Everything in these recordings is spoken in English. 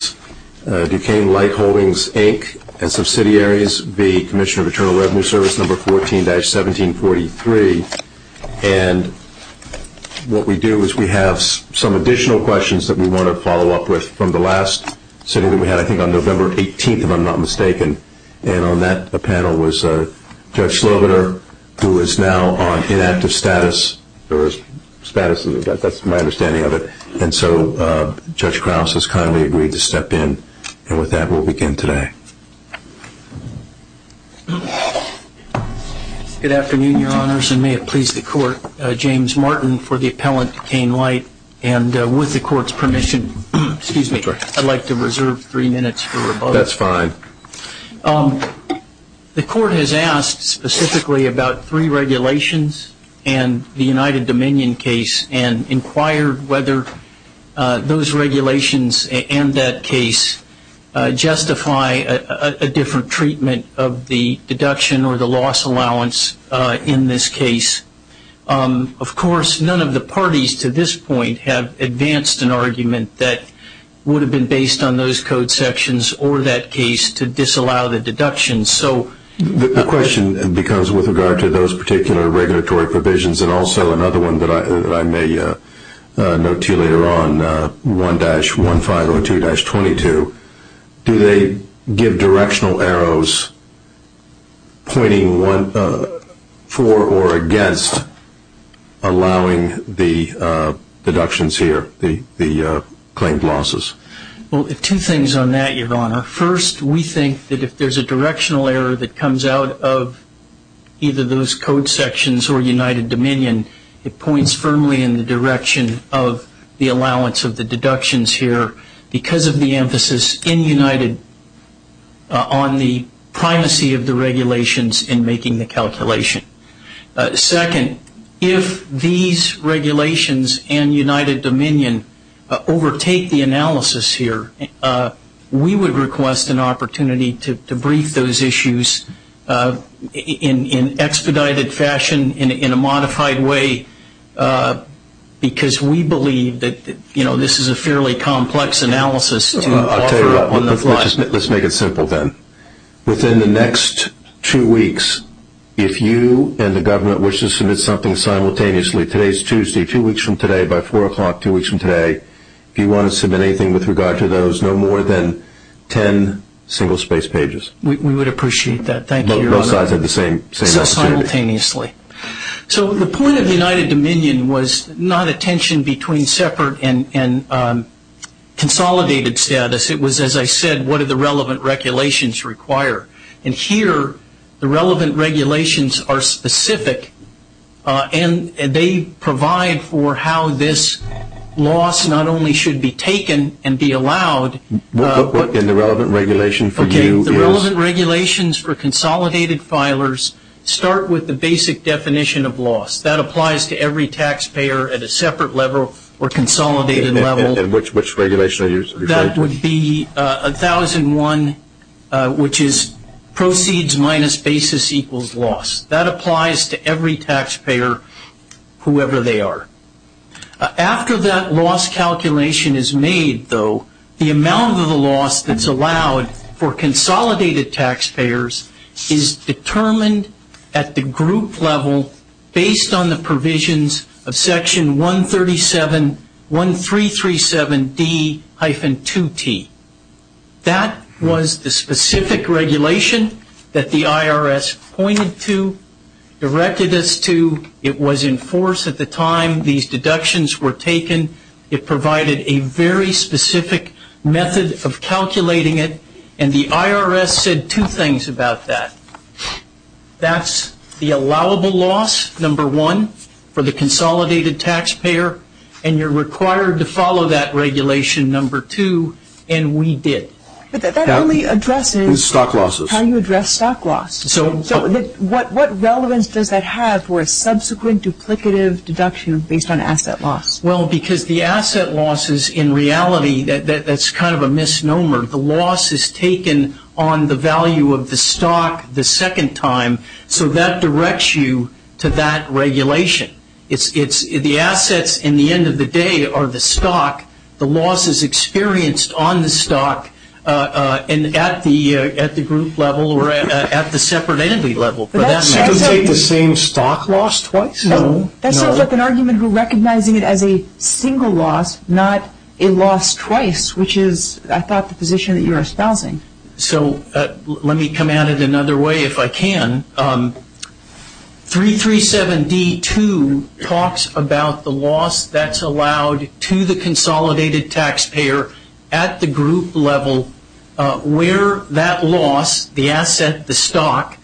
Service No. 14-1743. And what we do is we have some additional questions that we want to follow up with from the last sitting that we had, I think on November 18th, if I'm not mistaken. And on that panel was Judge Slobider, who is now on inactive status, or status, that's my understanding of it. And so Judge Krauss has kindly agreed to speak. And with that, we'll begin today. Good afternoon, Your Honors, and may it please the Court. James Martin for the Appellant Duquesne Light. And with the Court's permission, excuse me, I'd like to reserve three minutes for rebuttal. That's fine. The Court has asked specifically about three regulations and the United Dominion case and inquired whether those regulations and that case justify a different treatment of the deduction or the loss allowance in this case. Of course, none of the parties to this point have advanced an argument that would have been based on those code sections or that case to disallow the deduction. So the question becomes with regard to those particular regulatory provisions and also another one that I may note to you later on, and that is, if there is a directional error of 1-1502-22, do they give directional arrows pointing for or against allowing the deductions here, the claimed losses? Well, two things on that, Your Honor. First, we think that if there's a directional error that comes out of either those code sections or United Dominion, it points firmly in the direction of the allowance of the deduction. Second, if these regulations and United Dominion overtake the analysis here, we would request an opportunity to brief those issues in expedited fashion, in a modified way, because we think this is a fairly complex analysis to offer on the fly. I'll tell you what, let's make it simple then. Within the next two weeks, if you and the government wish to submit something simultaneously, today's Tuesday, two weeks from today by 4 o'clock, two weeks from today, if you want to submit anything with regard to those, no more than 10 single-space pages. We would appreciate that. Thank you, Your Honor. So the point of United Dominion was not a tension between separate and consolidated status. It was, as I said, what do the relevant regulations require? And here, the relevant regulations are specific, and they provide for how this loss not only should be taken and be allowed... And the relevant regulation for you is... The relevant regulations for consolidated filers start with the basic definition of loss. That applies to every taxpayer at a separate level or consolidated level. And which regulation are you referring to? That would be 1001, which is proceeds minus basis equals loss. That applies to every taxpayer, whoever they are. After that loss calculation is made, though, the amount of the loss that's allowed for consolidated taxpayers is determined at the group level based on the provisions of Section 137, 1337D-2T. That was the specific regulation that the IRS pointed to, directed us to. It was in force at the time these deductions were taken. It provided a very specific method of calculating it. And the IRS said two things about that. That's the allowable loss, number one, for the consolidated taxpayer. And you're required to follow that regulation, number two, and we did. But that only addresses how you address stock loss. So what relevance does that have for a subsequent duplicative deduction based on asset loss? Well, because the asset losses, in reality, that's kind of a misnomer. The loss is taken on the value of the stock the second time. So that directs you to that regulation. The assets, in the end of the day, are the stock. The loss is experienced on the stock and at the group level or at the separate entity level. But that sounds like the same stock loss twice. No. That sounds like an argument for recognizing it as a single loss, not a loss twice, which is, I thought, the position that you're espousing. So let me come at it another way if I can. 337D2 talks about the loss that's allowed to the consolidated taxpayer at the group level where that loss, the asset, the stock,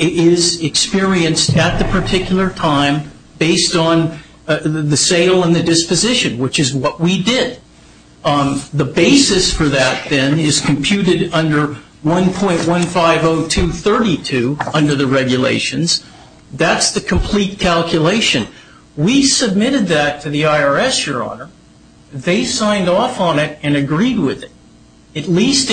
is experienced at the particular time based on the sale and the disposition, which is what we did. The basis for that, then, is computed under 1.150232 under the regulations. That's the complete calculation. We submitted that to the IRS, Your Honor. They signed off on it and agreed with it, at least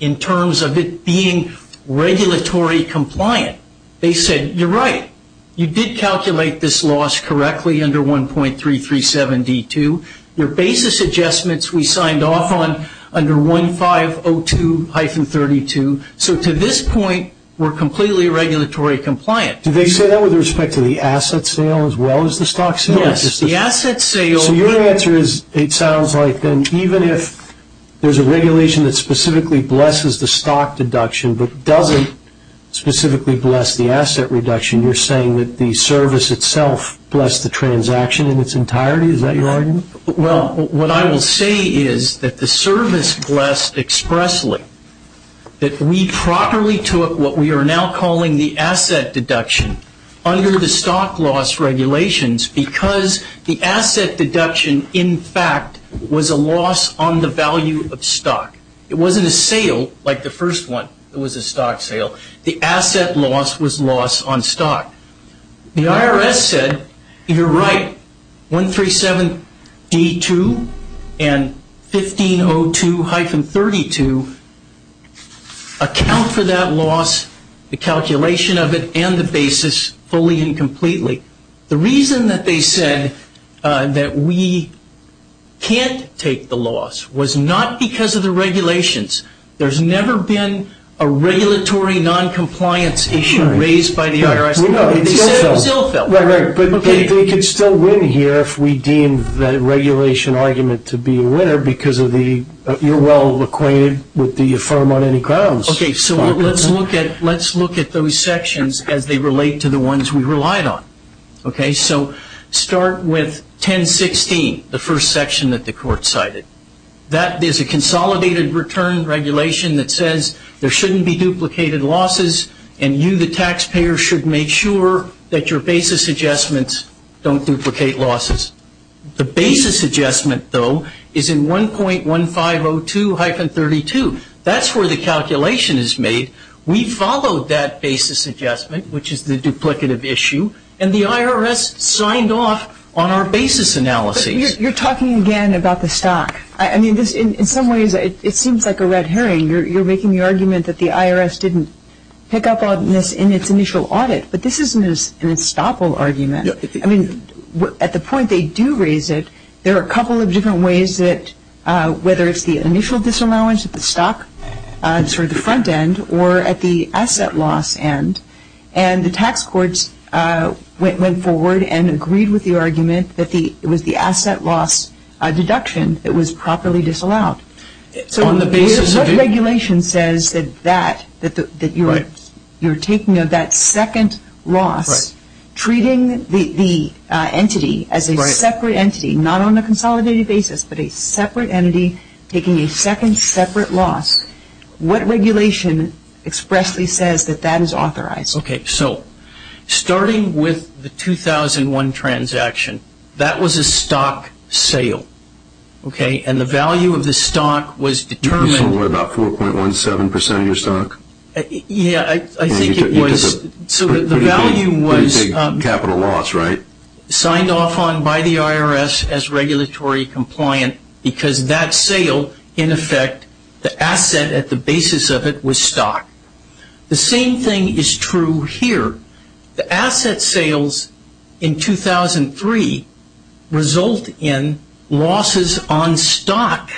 in terms of it being regulatory compliant. They said, You're right. You did calculate this loss correctly under 1.337D2. Your basis adjustments, we signed off on under 1.502-32. So to this point, we're completely regulatory compliant. Did they say that with respect to the asset sale as well as the stock sale? Yes, the asset sale. So your answer is it sounds like then even if there's a regulation that specifically blesses the stock deduction but doesn't specifically bless the asset reduction, you're saying that the service itself blessed the transaction in its entirety? Is that your argument? Well, what I will say is that the service blessed expressly, that we properly took what we are now calling the asset deduction under the stock loss regulations because the asset deduction, in fact, was a loss on the value of stock. It wasn't a sale like the first one that was a stock sale. The asset loss was loss on stock. The IRS said, You're right. 1.37D2 and 1.502-32 account for that loss, the calculation of it, and the basis fully and completely. The reason that they said that we can't take the loss was not because of the regulations. There's never been a regulatory noncompliance issue raised by the IRS. They said it was ill felt. Right, right. But they could still win here if we deem the regulation argument to be a winner because you're well acquainted with the firm on any grounds. Okay, so let's look at those sections as they relate to the ones we relied on. So start with 10.16, the first section that the court cited. There's a consolidated return regulation that says there shouldn't be duplicated losses and you, the taxpayer, should make sure that your basis adjustments don't duplicate losses. The basis adjustment, though, is in 1.1502-32. That's where the calculation is made. We followed that basis adjustment, which is the duplicative issue, and the IRS signed off on our basis analysis. You're talking again about the stock. I mean, in some ways it seems like a red herring. You're making the argument that the IRS didn't pick up on this in its initial audit, but this isn't an estoppel argument. I mean, at the point they do raise it, there are a couple of different ways that, whether it's the initial disallowance of the stock, sort of the front end, or at the asset loss end, and the tax courts went forward and agreed with the argument that it was the asset loss deduction that was properly disallowed. So what regulation says that you're taking of that second loss, treating the entity as a separate entity, not on a consolidated basis, but a separate entity taking a second separate loss, what regulation expressly says that that is authorized? Okay, so starting with the 2001 transaction, that was a stock sale. Okay, and the value of the stock was determined. You sold what, about 4.17% of your stock? Yeah, I think it was. So the value was. Pretty big capital loss, right? Signed off on by the IRS as regulatory compliant because that sale, in effect, the asset at the basis of it was stock. The same thing is true here. The asset sales in 2003 result in losses on stock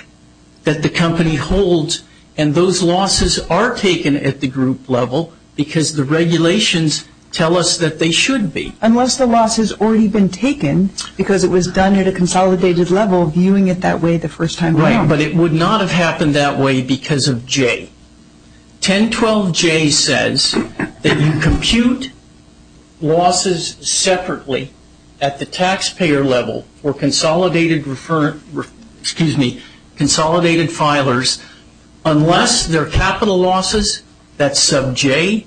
that the company holds, and those losses are taken at the group level because the regulations tell us that they should be. Unless the loss has already been taken because it was done at a consolidated level, viewing it that way the first time around. Right, but it would not have happened that way because of J. 1012J says that you compute losses separately at the taxpayer level for consolidated filers unless they're capital losses, that's sub J,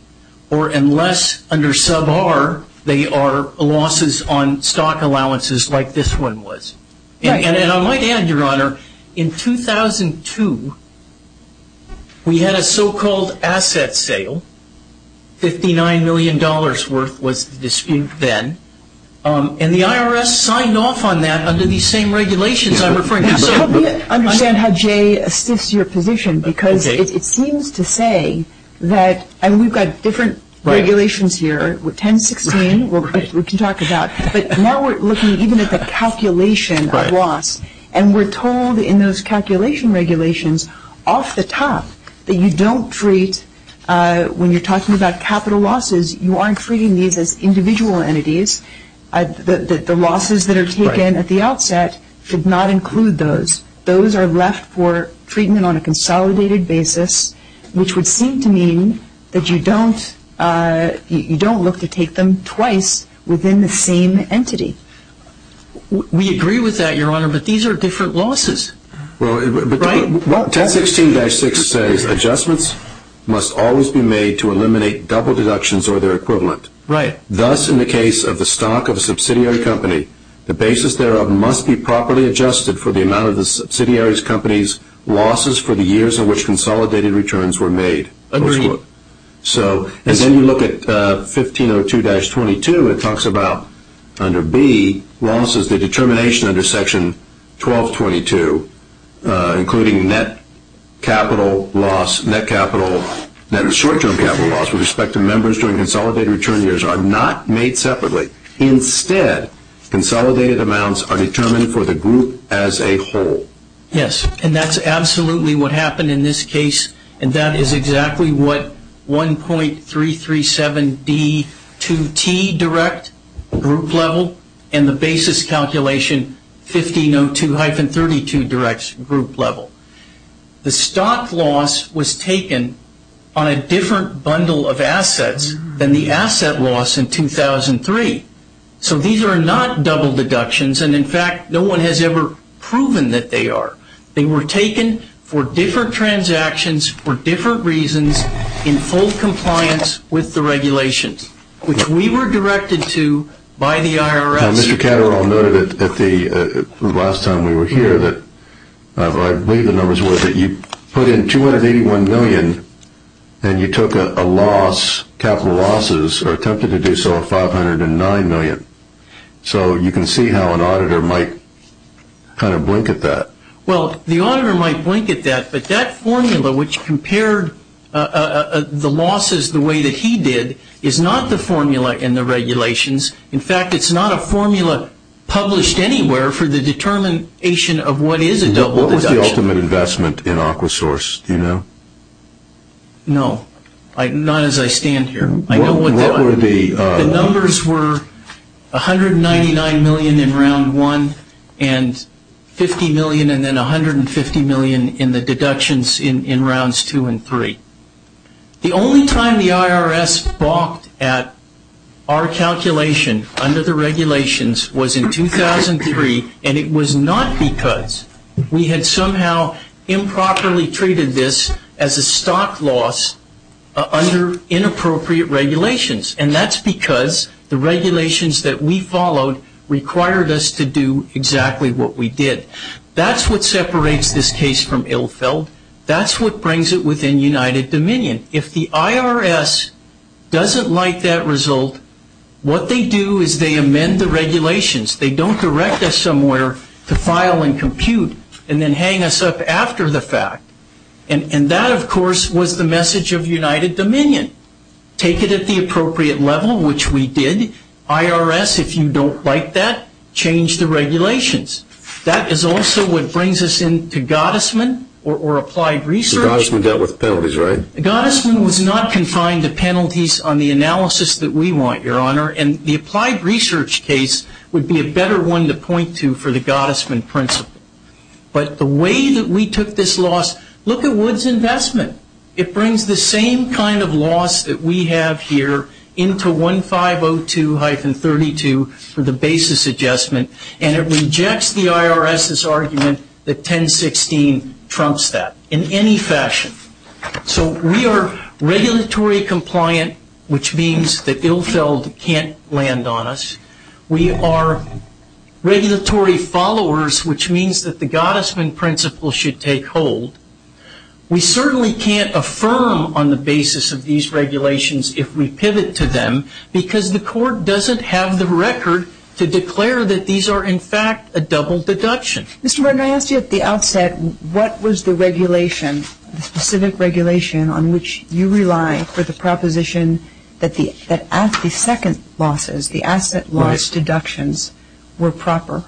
or unless under sub R they are losses on stock allowances like this one was. And I might add, Your Honor, in 2002 we had a so-called asset sale, $59 million worth was the dispute then, and the IRS signed off on that under these same regulations I'm referring to. Let me understand how J. assists your position because it seems to say that, and we've got different regulations here, 1016 we can talk about, but now we're looking even at the calculation of loss, and we're told in those calculation regulations off the top that you don't treat, when you're talking about capital losses, you aren't treating these as individual entities. The losses that are taken at the outset should not include those. Those are left for treatment on a consolidated basis, which would seem to mean that you don't look to take them twice within the same entity. We agree with that, Your Honor, but these are different losses, right? 1016-6 says adjustments must always be made to eliminate double deductions or their equivalent. Right. Thus, in the case of the stock of a subsidiary company, the basis thereof must be properly adjusted for the amount of the subsidiary's company's losses for the years in which consolidated returns were made. Agreed. And then you look at 1502-22. It talks about under B, losses, the determination under Section 1222, including net capital loss, net capital, net short-term capital loss with respect to members during consolidated return years are not made separately. Instead, consolidated amounts are determined for the group as a whole. Yes, and that's absolutely what happened in this case, and that is exactly what 1.337D2T direct group level and the basis calculation 1502-32 direct group level. The stock loss was taken on a different bundle of assets than the asset loss in 2003. So these are not double deductions, and in fact, no one has ever proven that they are. They were taken for different transactions for different reasons in full compliance with the regulations, which we were directed to by the IRS. Mr. Catterall noted that the last time we were here that I believe the numbers were that you put in 281 million and you took a loss, capital losses, or attempted to do so at 509 million. So you can see how an auditor might kind of blink at that. Well, the auditor might blink at that, but that formula which compared the losses the way that he did is not the formula in the regulations. In fact, it's not a formula published anywhere for the determination of what is a double deduction. What was the ultimate investment in AquaSource, do you know? No, not as I stand here. The numbers were 199 million in Round 1 and 50 million and then 150 million in the deductions in Rounds 2 and 3. The only time the IRS balked at our calculation under the regulations was in 2003, and it was not because we had somehow improperly treated this as a stock loss under inappropriate regulations, and that's because the regulations that we followed required us to do exactly what we did. That's what separates this case from Illfeld. That's what brings it within United Dominion. If the IRS doesn't like that result, what they do is they amend the regulations. They don't direct us somewhere to file and compute and then hang us up after the fact, and that, of course, was the message of United Dominion. Take it at the appropriate level, which we did. IRS, if you don't like that, change the regulations. That is also what brings us into Gottesman or Applied Research. Gottesman dealt with penalties, right? Gottesman was not confined to penalties on the analysis that we want, Your Honor, and the Applied Research case would be a better one to point to for the Gottesman principle. But the way that we took this loss, look at Wood's investment. It brings the same kind of loss that we have here into 1502-32 for the basis adjustment, and it rejects the IRS's argument that 1016 trumps that in any fashion. So we are regulatory compliant, which means that Ilfeld can't land on us. We are regulatory followers, which means that the Gottesman principle should take hold. We certainly can't affirm on the basis of these regulations if we pivot to them because the court doesn't have the record to declare that these are, in fact, a double deduction. Mr. Martin, I asked you at the outset what was the regulation, the specific regulation on which you rely for the proposition that the second losses, the asset loss deductions were proper.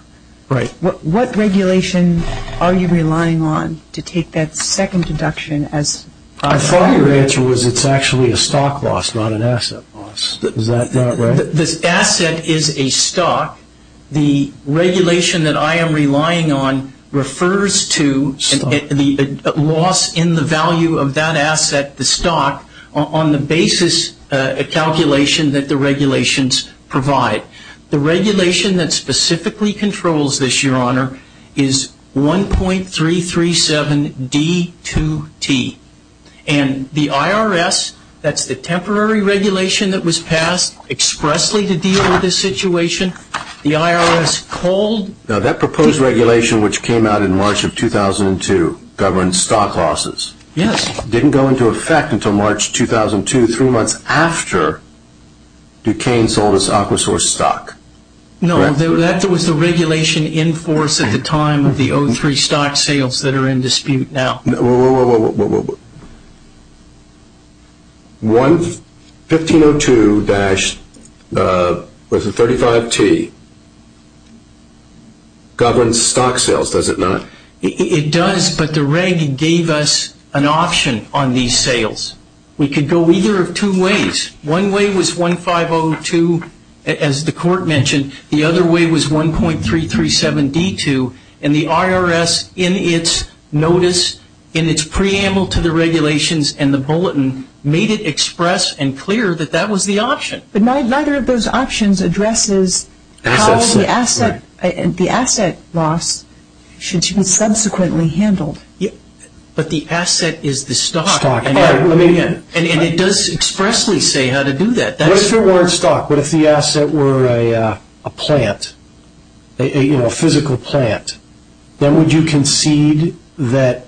Right. What regulation are you relying on to take that second deduction as proper? I thought your answer was it's actually a stock loss, not an asset loss. Is that not right? This asset is a stock. The regulation that I am relying on refers to the loss in the value of that asset, the stock, on the basis calculation that the regulations provide. The regulation that specifically controls this, Your Honor, is 1.337D2T, and the IRS, that's the temporary regulation that was passed expressly to deal with this situation, the IRS called... Now, that proposed regulation, which came out in March of 2002, governed stock losses. Yes. It didn't go into effect until March 2002, three months after Duquesne sold its Aquasource stock. No, that was the regulation in force at the time of the 03 stock sales that are in dispute now. Whoa, whoa, whoa. 1502-35T governs stock sales, does it not? It does, but the reg gave us an option on these sales. We could go either of two ways. One way was 1502, as the court mentioned, the other way was 1.337D2, and the IRS, in its notice, in its preamble to the regulations and the bulletin, made it express and clear that that was the option. But neither of those options addresses how the asset loss should be subsequently handled. But the asset is the stock, and it does expressly say how to do that. What if it weren't stock? What if the asset were a plant, a physical plant? Then would you concede that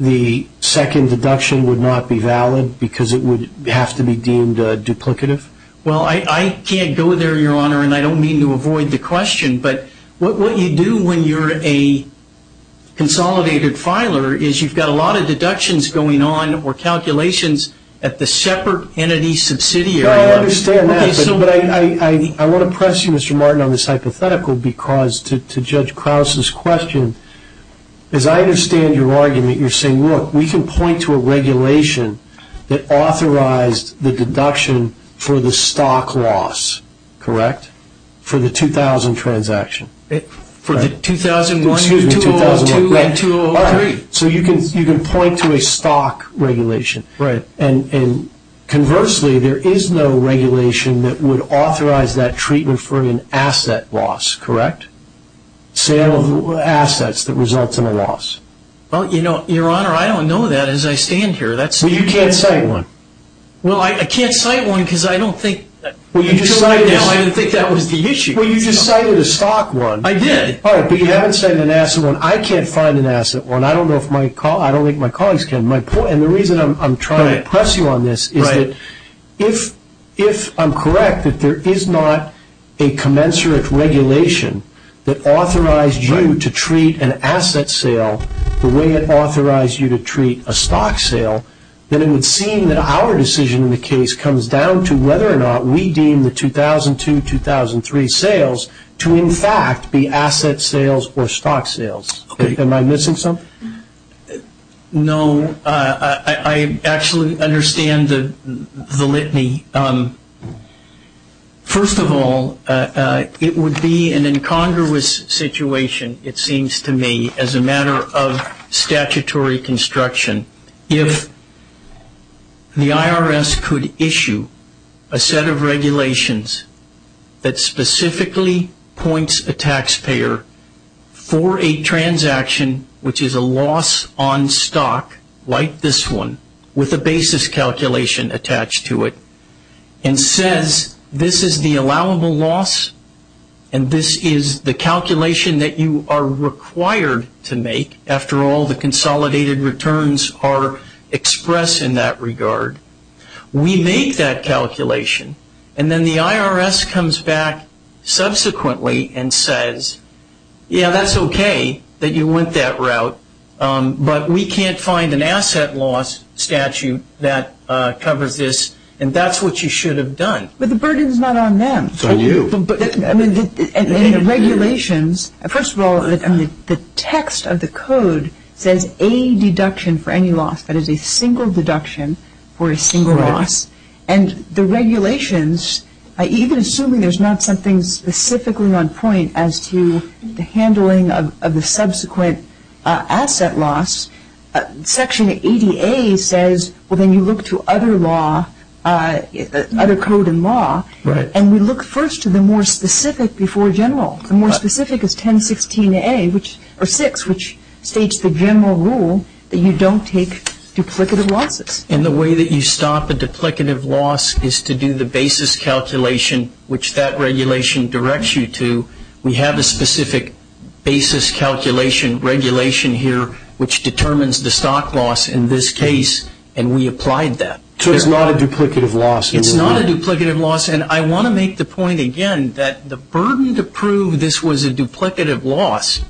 the second deduction would not be valid because it would have to be deemed duplicative? Well, I can't go there, Your Honor, and I don't mean to avoid the question, but what you do when you're a consolidated filer is you've got a lot of deductions going on or calculations at the separate entity subsidiary. No, I understand that, but I want to press you, Mr. Martin, on this hypothetical because to Judge Krause's question, as I understand your argument, you're saying, look, we can point to a regulation that authorized the deduction for the stock loss, correct? For the 2000 transaction. For the 2001, 2002, and 2003. So you can point to a stock regulation, and conversely there is no regulation that would authorize that treatment for an asset loss, correct? Sale of assets that results in a loss. Well, Your Honor, I don't know that as I stand here. Well, you can't cite one. Well, I can't cite one because I don't think until right now I didn't think that was the issue. Well, you just cited a stock one. I did. All right, but you haven't cited an asset one. I can't find an asset one. I don't think my colleagues can. And the reason I'm trying to press you on this is that if I'm correct that there is not a commensurate regulation that authorized you to treat an asset sale the way it authorized you to treat a stock sale, then it would seem that our decision in the case comes down to whether or not we deem the 2002, 2003 sales to in fact be asset sales or stock sales. Am I missing something? No, I actually understand the litany. First of all, it would be an incongruous situation, it seems to me, as a matter of statutory construction. If the IRS could issue a set of regulations that specifically points a taxpayer for a transaction, which is a loss on stock like this one with a basis calculation attached to it and says this is the allowable loss and this is the calculation that you are required to make, after all the consolidated returns are expressed in that regard, we make that calculation and then the IRS comes back subsequently and says, yeah, that's okay that you went that route, but we can't find an asset loss statute that covers this and that's what you should have done. But the burden is not on them. It's on you. And the regulations, first of all, the text of the code says a deduction for any loss, that is a single deduction for a single loss, and the regulations, even assuming there's not something specifically on point as to the handling of the subsequent asset loss, Section 80A says, well, then you look to other law, other code and law, and we look first to the more specific before general. The more specific is 1016A, or 6, which states the general rule that you don't take duplicative losses. And the way that you stop a duplicative loss is to do the basis calculation, which that regulation directs you to. We have a specific basis calculation regulation here, which determines the stock loss in this case, and we applied that. So it's not a duplicative loss? It's not a duplicative loss, and I want to make the point again that the burden to prove this was a duplicative loss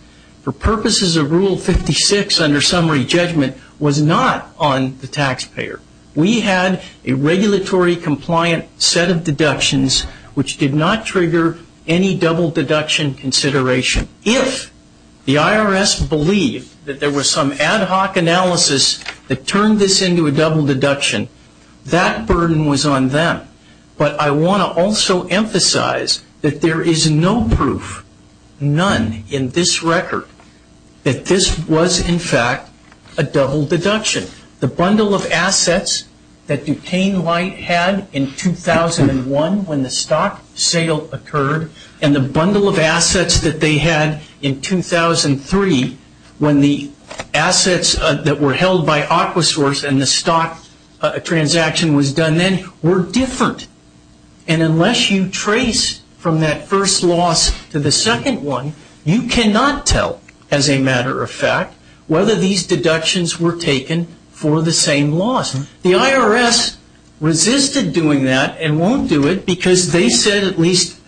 for purposes of Rule 56 under summary judgment was not on the taxpayer. We had a regulatory compliant set of deductions, which did not trigger any double deduction consideration. If the IRS believed that there was some ad hoc analysis that turned this into a double deduction, that burden was on them. But I want to also emphasize that there is no proof, none in this record, that this was in fact a double deduction. The bundle of assets that Duquesne had in 2001 when the stock sale occurred, and the bundle of assets that they had in 2003 when the assets that were held by Aquasource and the stock transaction was done then were different. And unless you trace from that first loss to the second one, you cannot tell, as a matter of fact, whether these deductions were taken for the same loss. The IRS resisted doing that and won't do it because they said, at least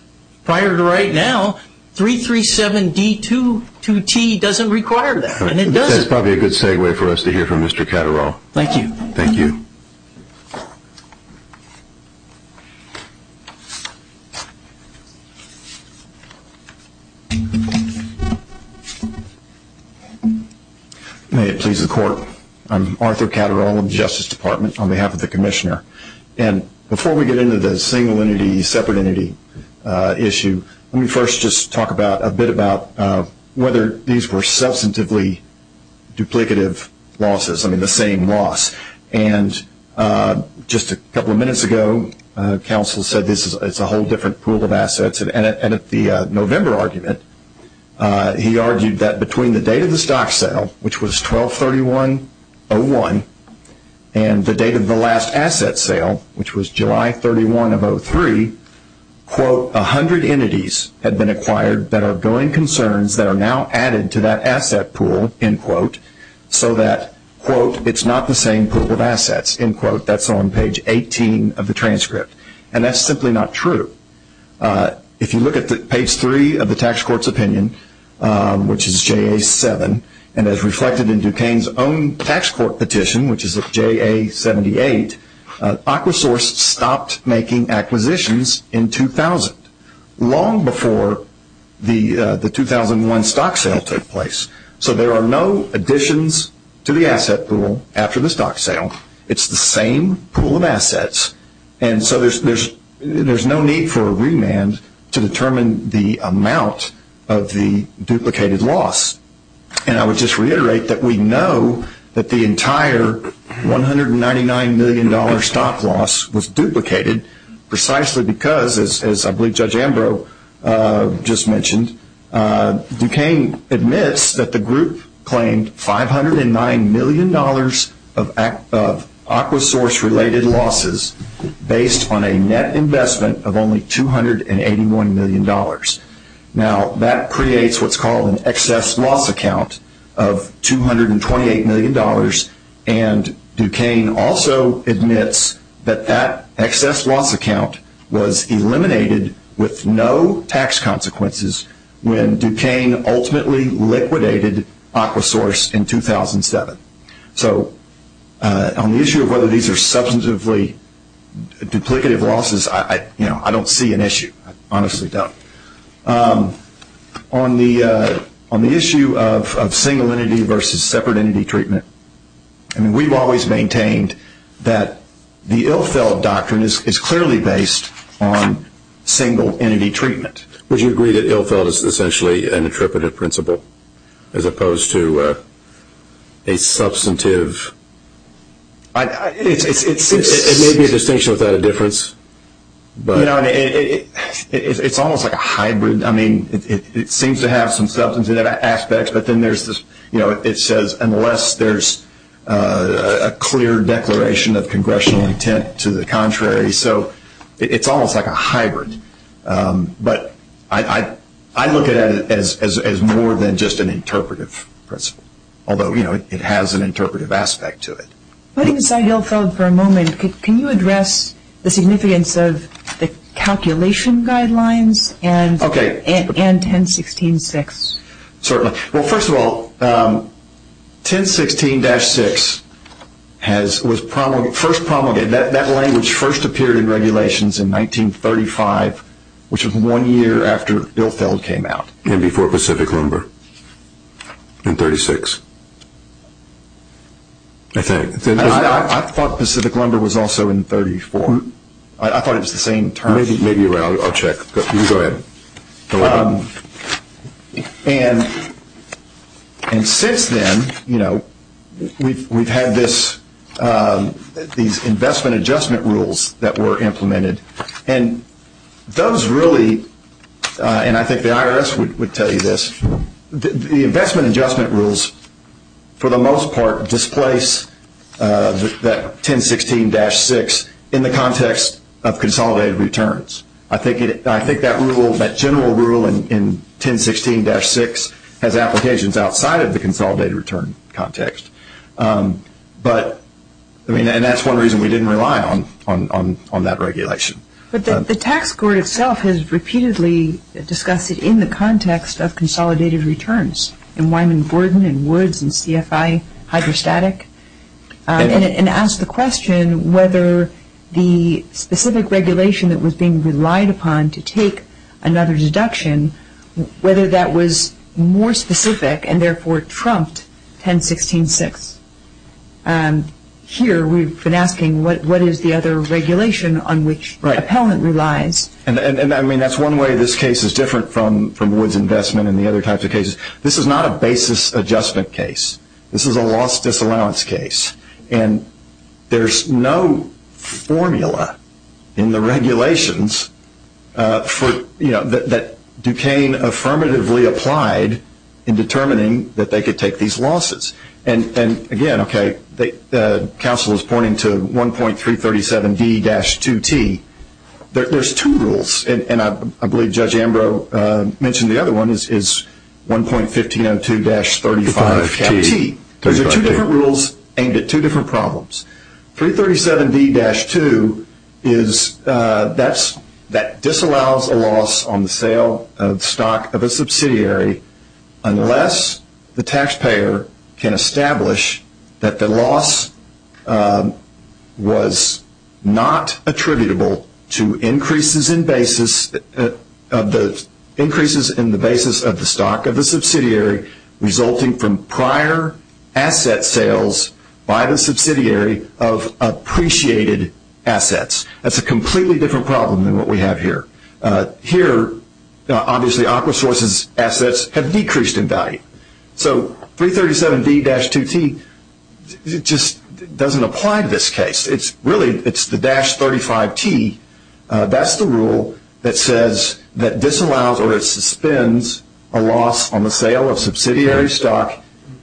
prior to right now, 337D22T doesn't require that, and it doesn't. That's probably a good segue for us to hear from Mr. Catterall. Thank you. Thank you. May it please the Court. I'm Arthur Catterall of the Justice Department on behalf of the Commissioner. And before we get into the single entity, separate entity issue, let me first just talk a bit about whether these were substantively duplicative losses, I mean the same loss. And just a couple of minutes ago, counsel said it's a whole different pool of assets. And at the November argument, he argued that between the date of the stock sale, which was 12-31-01, and the date of the last asset sale, which was July 31 of 03, quote, a hundred entities had been acquired that are going concerns that are now added to that asset pool, end quote, so that, quote, it's not the same pool of assets, end quote. That's on page 18 of the transcript. And that's simply not true. If you look at page 3 of the tax court's opinion, which is JA-7, and as reflected in Duquesne's own tax court petition, which is at JA-78, Aquasource stopped making acquisitions in 2000, long before the 2001 stock sale took place. So there are no additions to the asset pool after the stock sale. It's the same pool of assets. And so there's no need for a remand to determine the amount of the duplicated loss. And I would just reiterate that we know that the entire $199 million stock loss was duplicated precisely because, as I believe Judge Ambrose just mentioned, Duquesne admits that the group claimed $509 million of Aquasource-related losses based on a net investment of only $281 million. Now, that creates what's called an excess loss account of $228 million, and Duquesne also admits that that excess loss account was eliminated with no tax consequences when Duquesne ultimately liquidated Aquasource in 2007. So on the issue of whether these are substantively duplicative losses, I don't see an issue. I honestly don't. On the issue of single entity versus separate entity treatment, we've always maintained that the Ilfeld doctrine is clearly based on single entity treatment. Would you agree that Ilfeld is essentially an interpretive principle as opposed to a substantive? It may be a distinction without a difference. It's almost like a hybrid. I mean, it seems to have some substantive aspects, but then it says, unless there's a clear declaration of congressional intent to the contrary. So it's almost like a hybrid. But I look at it as more than just an interpretive principle, although it has an interpretive aspect to it. Letting aside Ilfeld for a moment, can you address the significance of the calculation guidelines and 1016-6? Certainly. Well, first of all, 1016-6 was first promulgated. That language first appeared in regulations in 1935, which was one year after Ilfeld came out. And before Pacific Lumber in 1936. I thought Pacific Lumber was also in 1934. I thought it was the same term. Maybe you're right. I'll check. You can go ahead. And since then, we've had these investment adjustment rules that were implemented. And those really, and I think the IRS would tell you this, the investment adjustment rules, for the most part, displace that 1016-6 in the context of consolidated returns. I think that rule, that general rule in 1016-6, has applications outside of the consolidated return context. But, I mean, and that's one reason we didn't rely on that regulation. But the tax court itself has repeatedly discussed it in the context of consolidated returns, in Wyman Gordon and Woods and CFI, hydrostatic, and asked the question whether the specific regulation that was being relied upon to take another deduction, whether that was more specific and, therefore, trumped 1016-6. Here, we've been asking what is the other regulation on which appellant relies. And, I mean, that's one way this case is different from Woods' investment and the other types of cases. This is not a basis adjustment case. This is a loss disallowance case. And there's no formula in the regulations for, you know, that Duquesne affirmatively applied in determining that they could take these losses. And, again, okay, the counsel is pointing to 1.337D-2T. There's two rules, and I believe Judge Ambrose mentioned the other one is 1.1502-35-T. Those are two different rules aimed at two different problems. 3.337D-2 is that disallows a loss on the sale of stock of a subsidiary unless the taxpayer can establish that the loss was not attributable to increases in the basis of the stock of the subsidiary resulting from prior asset sales by the subsidiary of appreciated assets. That's a completely different problem than what we have here. Here, obviously, AquaSource's assets have decreased in value. So 3.337D-2T just doesn't apply to this case. Really, it's the dash 35T. That's the rule that says that disallows or suspends a loss on the sale of subsidiary stock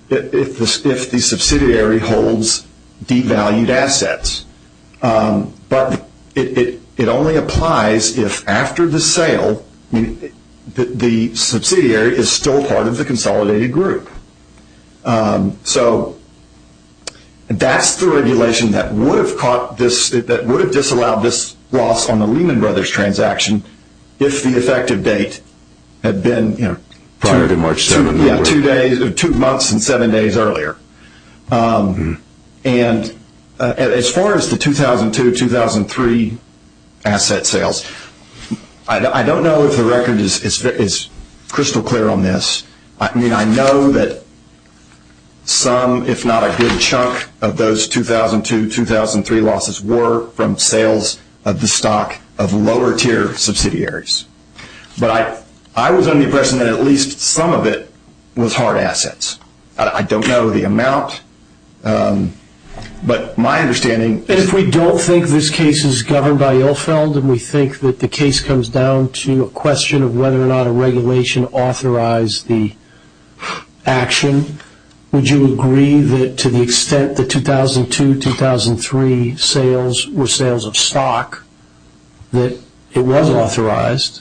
if the subsidiary holds devalued assets. But it only applies if after the sale the subsidiary is still part of the consolidated group. So that's the regulation that would have disallowed this loss on the Lehman Brothers transaction if the effective date had been two months and seven days earlier. As far as the 2002-2003 asset sales, I don't know if the record is crystal clear on this. I mean, I know that some, if not a good chunk, of those 2002-2003 losses were from sales of the stock of lower-tier subsidiaries. But I was under the impression that at least some of it was hard assets. I don't know the amount. But my understanding is – If we don't think this case is governed by Ilfeld and we think that the case comes down to a question of whether or not a regulation authorized the action, would you agree that to the extent that the 2002-2003 sales were sales of stock, that it was authorized?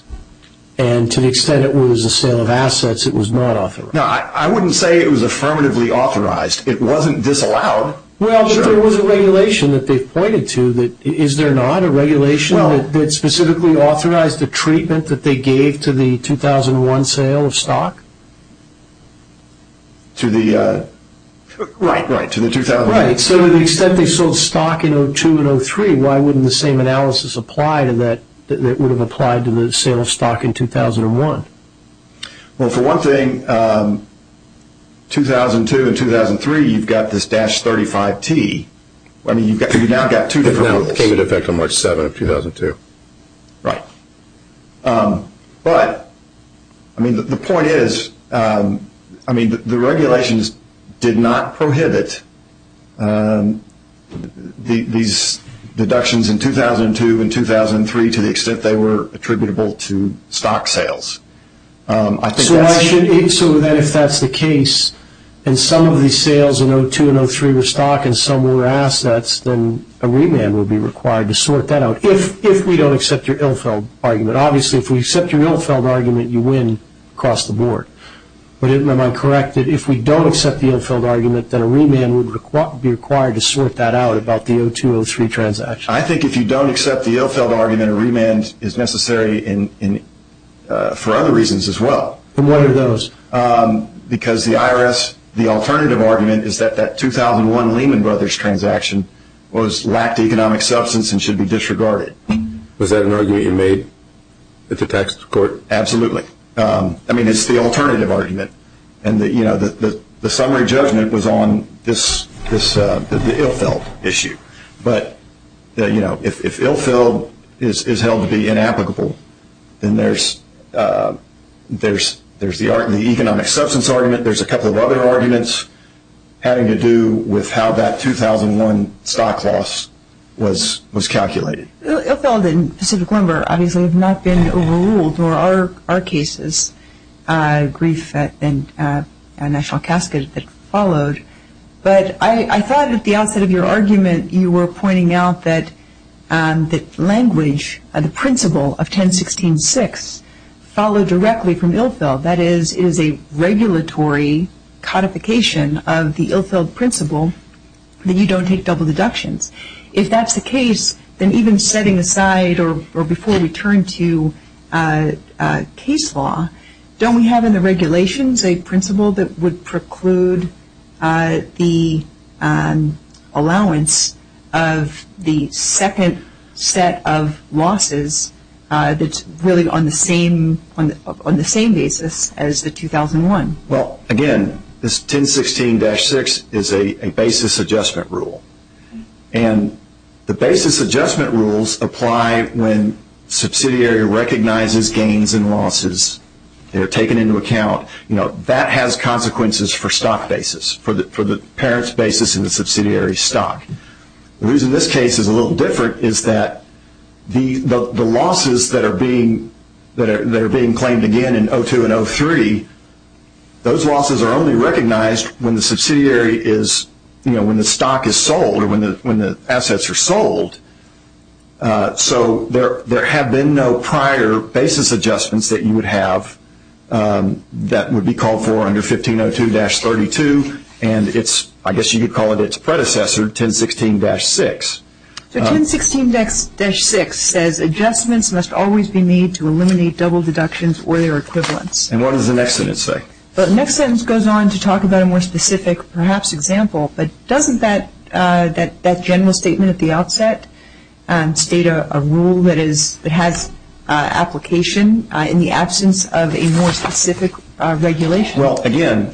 And to the extent it was a sale of assets, it was not authorized? No, I wouldn't say it was affirmatively authorized. It wasn't disallowed. Well, if there was a regulation that they've pointed to, is there not? A regulation that specifically authorized the treatment that they gave to the 2001 sale of stock? To the – right, right, to the 2002. Right, so to the extent they sold stock in 2002 and 2003, why wouldn't the same analysis apply to that that would have applied to the sale of stock in 2001? Well, for one thing, 2002 and 2003, you've got this –35T. I mean, you've now got two different rules. It now came into effect on March 7th of 2002. Right. But, I mean, the point is, I mean, the regulations did not prohibit these deductions in 2002 and 2003 to the extent they were attributable to stock sales. So then if that's the case, and some of these sales in 2002 and 2003 were stock and some were assets, then a remand would be required to sort that out, if we don't accept your Ilfeld argument. Obviously, if we accept your Ilfeld argument, you win across the board. But am I correct that if we don't accept the Ilfeld argument, then a remand would be required to sort that out about the 2002-2003 transaction? I think if you don't accept the Ilfeld argument, a remand is necessary for other reasons as well. And what are those? Because the IRS, the alternative argument is that that 2001 Lehman Brothers transaction lacked economic substance and should be disregarded. Was that an argument you made at the tax court? Absolutely. I mean, it's the alternative argument. And the summary judgment was on the Ilfeld issue. But, you know, if Ilfeld is held to be inapplicable, then there's the economic substance argument, there's a couple of other arguments having to do with how that 2001 stock loss was calculated. Ilfeld and Pacific Limber obviously have not been overruled, or are cases. Grief and a national casket that followed. But I thought at the outset of your argument you were pointing out that language, the principle of 1016-6, followed directly from Ilfeld. That is, it is a regulatory codification of the Ilfeld principle that you don't take double deductions. If that's the case, then even setting aside, or before we turn to case law, don't we have in the regulations a principle that would preclude the allowance of the second set of losses that's really on the same basis as the 2001? Well, again, this 1016-6 is a basis adjustment rule. And the basis adjustment rules apply when subsidiary recognizes gains and losses. They're taken into account. That has consequences for stock basis, for the parent's basis in the subsidiary stock. The reason this case is a little different is that the losses that are being claimed again in 02 and 03, those losses are only recognized when the stock is sold or when the assets are sold. So there have been no prior basis adjustments that you would have that would be called for under 1502-32. And I guess you could call it its predecessor, 1016-6. So 1016-6 says adjustments must always be made to eliminate double deductions or their equivalents. And what does the next sentence say? The next sentence goes on to talk about a more specific, perhaps, example. But doesn't that general statement at the outset state a rule that has application in the absence of a more specific regulation? Well, again,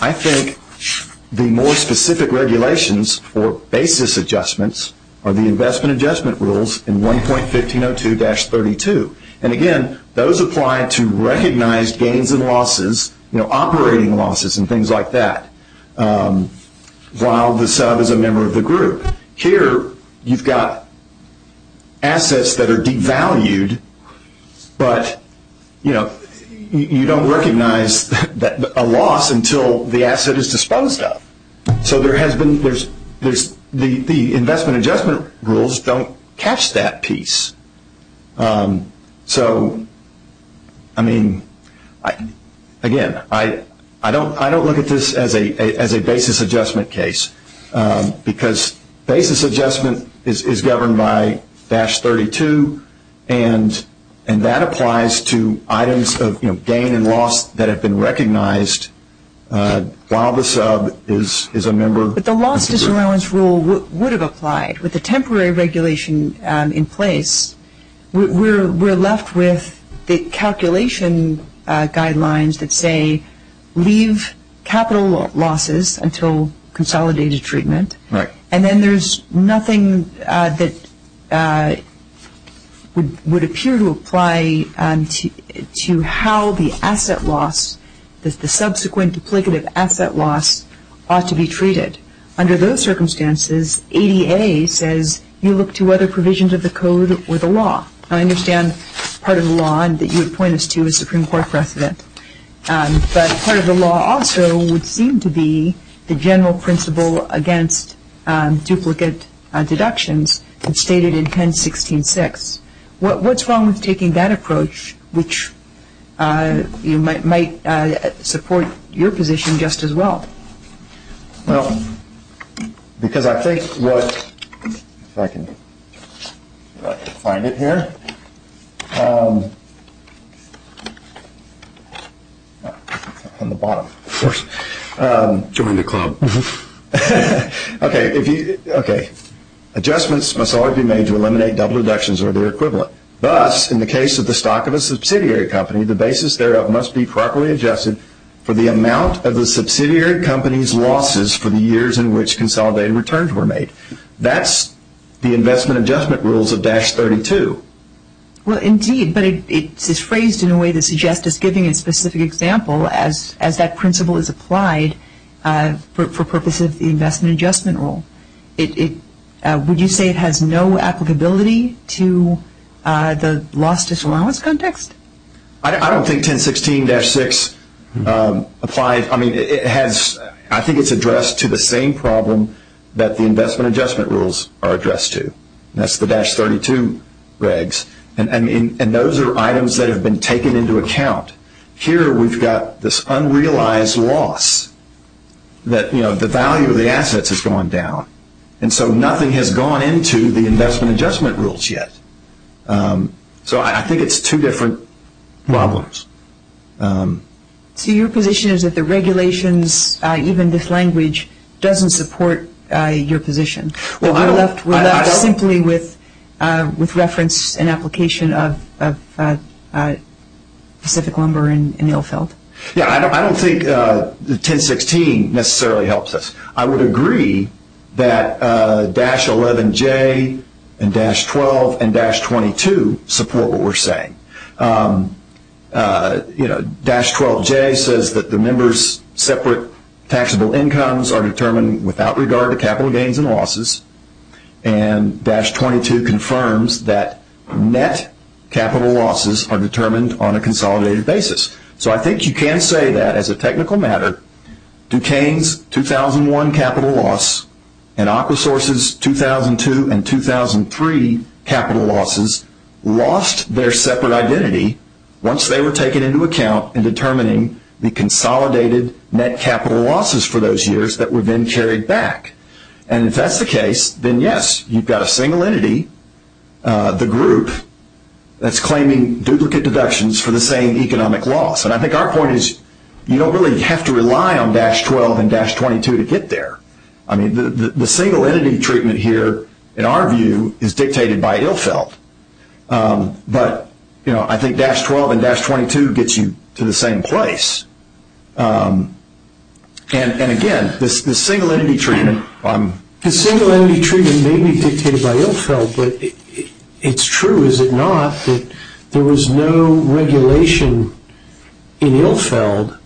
I think the more specific regulations for basis adjustments are the investment adjustment rules in 1.1502-32. And, again, those apply to recognize gains and losses, operating losses and things like that, while the sub is a member of the group. Here you've got assets that are devalued, but you don't recognize a loss until the asset is disposed of. So the investment adjustment rules don't catch that piece. So, I mean, again, I don't look at this as a basis adjustment case because basis adjustment is governed by dash 32, and that applies to items of gain and loss that have been recognized while the sub is a member of the group. But the loss disallowance rule would have applied. With the temporary regulation in place, we're left with the calculation guidelines that say leave capital losses until consolidated treatment. Right. And then there's nothing that would appear to apply to how the asset loss, the subsequent duplicative asset loss, ought to be treated. Under those circumstances, ADA says you look to other provisions of the code or the law. Now, I understand part of the law that you would point us to is Supreme Court precedent. But part of the law also would seem to be the general principle against duplicate deductions stated in 10.16.6. What's wrong with taking that approach, which might support your position just as well? Well, because I think what, if I can find it here, on the bottom, of course. Join the club. Okay. Adjustments must always be made to eliminate double deductions or their equivalent. Thus, in the case of the stock of a subsidiary company, the basis thereof must be properly adjusted for the amount of the subsidiary company's losses for the years in which consolidated returns were made. That's the investment adjustment rules of dash 32. Well, indeed. But it's phrased in a way that suggests it's giving a specific example as that principle is applied for purposes of the investment adjustment rule. Would you say it has no applicability to the loss disallowance context? I don't think 10.16.6 applies. I mean, I think it's addressed to the same problem that the investment adjustment rules are addressed to. That's the dash 32 regs. And those are items that have been taken into account. Here we've got this unrealized loss that, you know, the value of the assets has gone down. And so nothing has gone into the investment adjustment rules yet. So I think it's two different problems. So your position is that the regulations, even this language, doesn't support your position? We're left simply with reference and application of Pacific Lumber and Ilfeld. Yeah, I don't think 10.16 necessarily helps us. I would agree that dash 11J and dash 12 and dash 22 support what we're saying. You know, dash 12J says that the members' separate taxable incomes are determined without regard to capital gains and losses. And dash 22 confirms that net capital losses are determined on a consolidated basis. So I think you can say that, as a technical matter, Duquesne's 2001 capital loss and Aquasource's 2002 and 2003 capital losses lost their separate identity once they were taken into account in determining the consolidated net capital losses for those years that were then carried back. And if that's the case, then, yes, you've got a single entity, the group, that's claiming duplicate deductions for the same economic loss. And I think our point is you don't really have to rely on dash 12 and dash 22 to get there. I mean, the single entity treatment here, in our view, is dictated by Ilfeld. But, you know, I think dash 12 and dash 22 gets you to the same place. And, again, the single entity treatment... The single entity treatment may be dictated by Ilfeld, but it's true, is it not, that there was no regulation in Ilfeld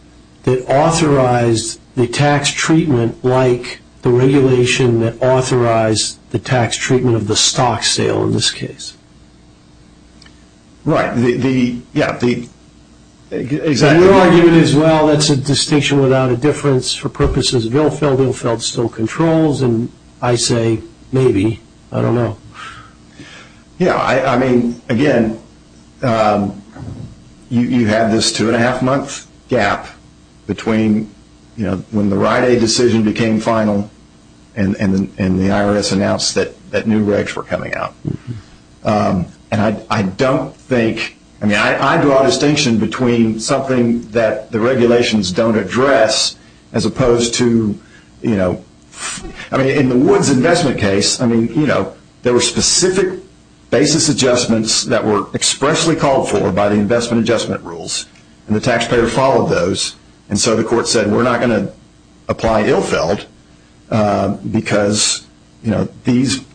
that authorized the tax treatment like the regulation that authorized the tax treatment of the stock sale in this case? Right. Yeah. Exactly. Your argument is, well, that's a distinction without a difference for purposes of Ilfeld. Ilfeld still controls, and I say maybe. I don't know. Yeah. I mean, again, you have this two-and-a-half-month gap between, you know, when the Rite Aid decision became final and the IRS announced that new regs were coming out. And I don't think... I mean, I draw a distinction between something that the regulations don't address as opposed to, you know... I mean, in the Woods investment case, I mean, you know, there were specific basis adjustments that were expressly called for by the investment adjustment rules, and the taxpayer followed those. And so the court said, we're not going to apply Ilfeld because, you know, the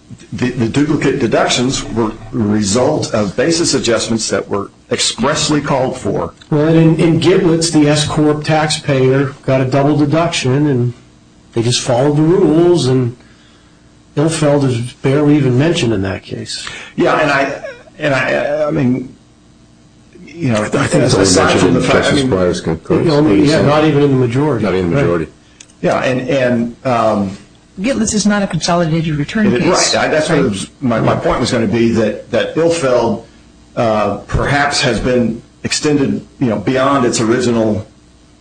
duplicate deductions were the result of basis adjustments that were expressly called for. Well, in Giblets, the S Corp taxpayer got a double deduction, and they just followed the rules, and Ilfeld is barely even mentioned in that case. Yeah, and I... I mean, you know, I think aside from the fact that... Not even in the majority. Not in the majority. Yeah, and... Giblets is not a consolidated return case. Right. My point was going to be that Ilfeld perhaps has been extended, you know, beyond its original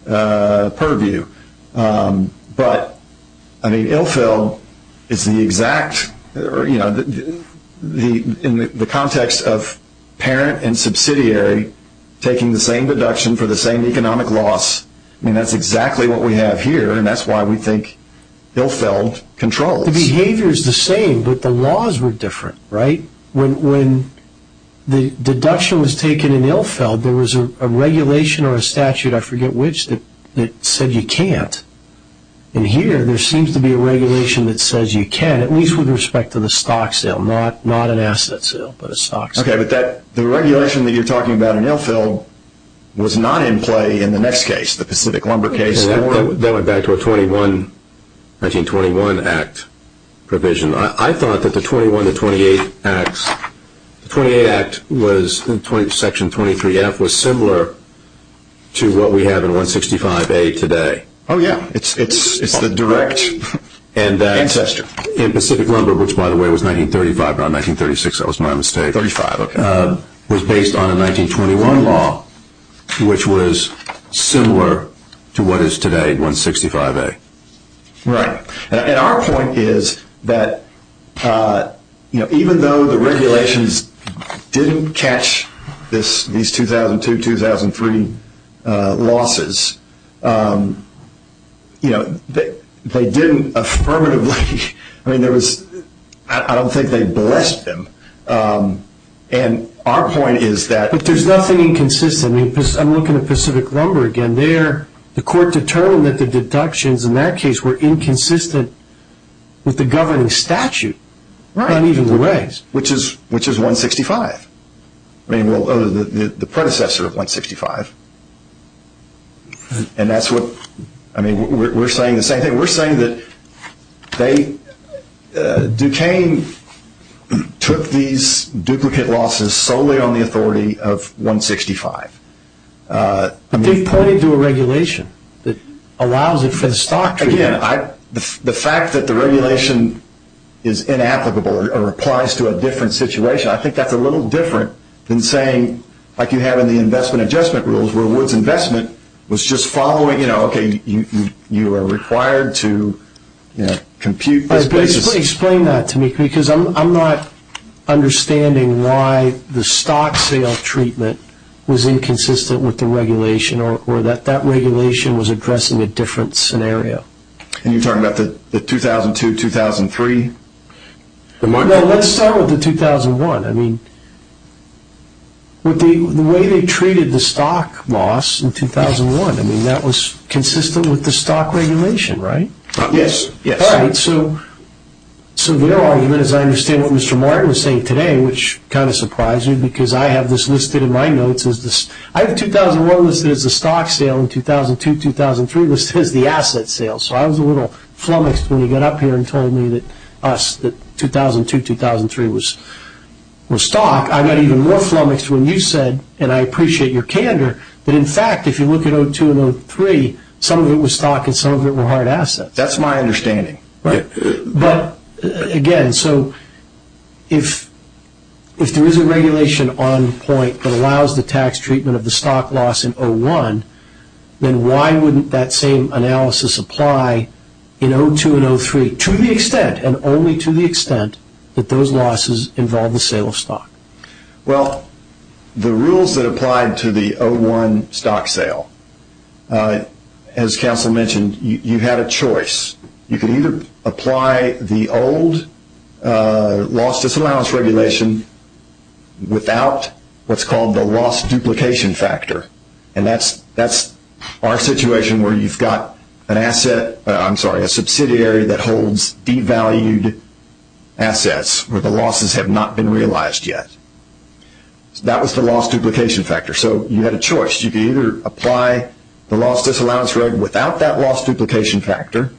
purview. But, I mean, Ilfeld is the exact, you know, in the context of parent and subsidiary taking the same deduction for the same economic loss. I mean, that's exactly what we have here, and that's why we think Ilfeld controls. The behavior is the same, but the laws were different, right? When the deduction was taken in Ilfeld, there was a regulation or a statute, I forget which, that said you can't. And here, there seems to be a regulation that says you can, at least with respect to the stock sale, not an asset sale, but a stock sale. Okay, but the regulation that you're talking about in Ilfeld was not in play in the next case, the Pacific Lumber case. That went back to a 1921 Act provision. I thought that the 21 to 28 Acts, the 28 Act was, Section 23F, was similar to what we have in 165A today. Oh, yeah. It's the direct ancestor. In Pacific Lumber, which, by the way, was 1935, not 1936, that was my mistake, was based on a 1921 law, which was similar to what is today in 165A. Right. And our point is that even though the regulations didn't catch these 2002-2003 losses, they didn't affirmatively, I don't think they blessed them. But there's nothing inconsistent. I'm looking at Pacific Lumber again. The court determined that the deductions in that case were inconsistent with the governing statute. Right. And even the regs. Which is 165. I mean, well, the predecessor of 165. And that's what, I mean, we're saying the same thing. We're saying that Duquesne took these duplicate losses solely on the authority of 165. But they pointed to a regulation that allows it for the stock treatment. Again, the fact that the regulation is inapplicable or applies to a different situation, I think that's a little different than saying, like you have in the investment adjustment rules, where Woods Investment was just following, you know, okay, you are required to compute this basis. Explain that to me because I'm not understanding why the stock sale treatment was inconsistent with the regulation or that that regulation was addressing a different scenario. And you're talking about the 2002-2003? No, let's start with the 2001. I mean, the way they treated the stock loss in 2001, I mean, that was consistent with the stock regulation, right? Yes. All right. So their argument, as I understand what Mr. Martin was saying today, which kind of surprised me, because I have this listed in my notes. I have 2001 listed as the stock sale and 2002-2003 listed as the asset sale. So I was a little flummoxed when he got up here and told me that us, that 2002-2003 was stock. I got even more flummoxed when you said, and I appreciate your candor, that in fact, if you look at 2002 and 2003, some of it was stock and some of it were hard assets. That's my understanding. But, again, so if there is a regulation on point that allows the tax treatment of the stock loss in 2001, then why wouldn't that same analysis apply in 2002 and 2003 to the extent and only to the extent that those losses involve the sale of stock? Well, the rules that applied to the 2001 stock sale, as Council mentioned, you had a choice. You could either apply the old loss disallowance regulation without what's called the loss duplication factor. And that's our situation where you've got an asset, I'm sorry, a subsidiary that holds devalued assets where the losses have not been realized yet. So that was the loss duplication factor. So you had a choice. You could either apply the loss disallowance regulation without that loss duplication factor,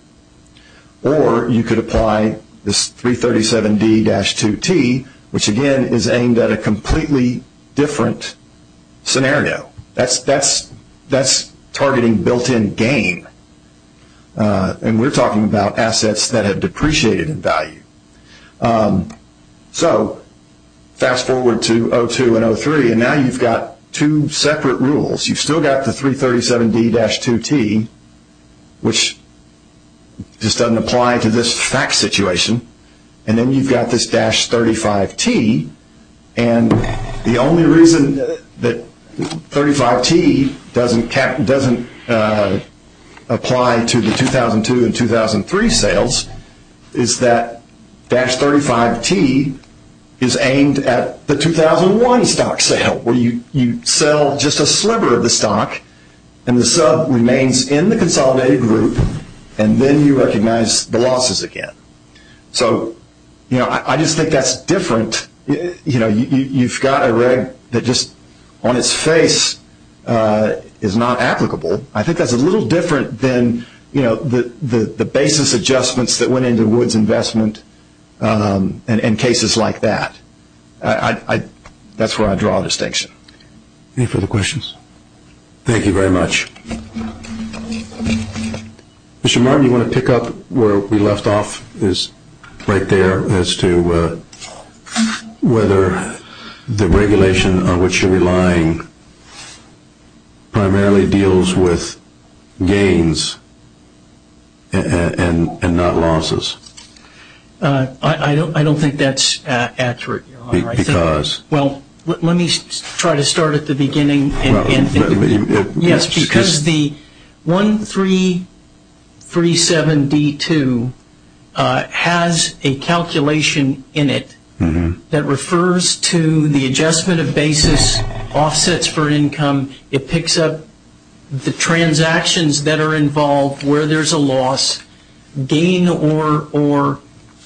or you could apply this 337D-2T, which, again, is aimed at a completely different scenario. That's targeting built-in gain. And we're talking about assets that have depreciated in value. So fast forward to 2002 and 2003, and now you've got two separate rules. You've still got the 337D-2T, which just doesn't apply to this fact situation. And then you've got this 35T, and the only reason that 35T doesn't apply to the 2002 and 2003 sales is that 35T is aimed at the 2001 stock sale, where you sell just a sliver of the stock, and the sub remains in the consolidated group, and then you recognize the losses again. So I just think that's different. You've got a reg that just on its face is not applicable. I think that's a little different than the basis adjustments that went into Woods Investment and cases like that. That's where I draw the distinction. Any further questions? Thank you very much. Mr. Martin, do you want to pick up where we left off, right there, as to whether the regulation on which you're relying primarily deals with gains and not losses? I don't think that's accurate, Your Honor. Because? Well, let me try to start at the beginning. Yes, because the 1337D-2 has a calculation in it that refers to the adjustment of basis offsets for income. It picks up the transactions that are involved where there's a loss, gain or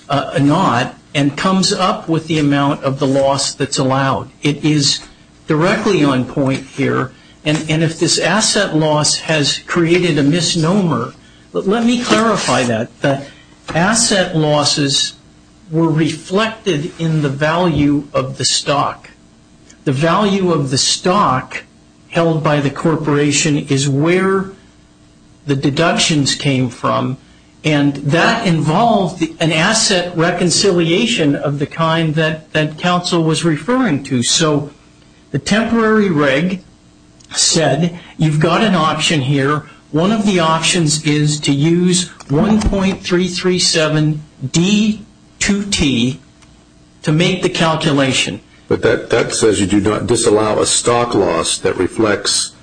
not, and comes up with the amount of the loss that's allowed. It is directly on point here. And if this asset loss has created a misnomer, let me clarify that, that asset losses were reflected in the value of the stock. The value of the stock held by the corporation is where the deductions came from, and that involved an asset reconciliation of the kind that counsel was referring to. So the temporary reg said you've got an option here. One of the options is to use 1.337D-2T to make the calculation. But that says you do not disallow a stock loss that reflects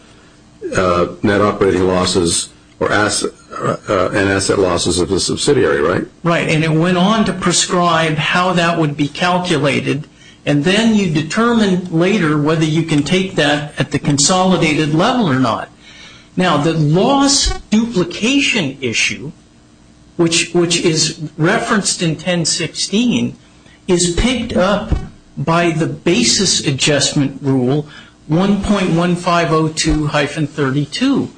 net operating losses and asset losses of the subsidiary, right? Right, and it went on to prescribe how that would be calculated, and then you determine later whether you can take that at the consolidated level or not. Now, the loss duplication issue, which is referenced in 1016, is picked up by the basis adjustment rule 1.1502-32.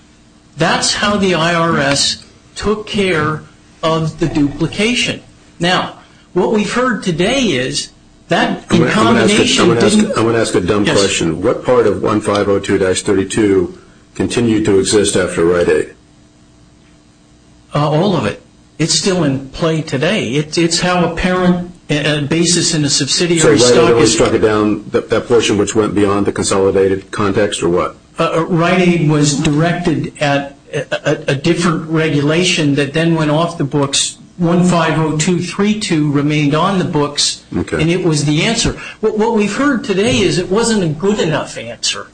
That's how the IRS took care of the duplication. Now, what we've heard today is that in combination didn't – All of it. It's still in play today. It's how a parent basis in a subsidiary stock is – So it really struck it down, that portion which went beyond the consolidated context, or what? Rite Aid was directed at a different regulation that then went off the books. 1.1502-32 remained on the books, and it was the answer. What we've heard today is it wasn't a good enough answer.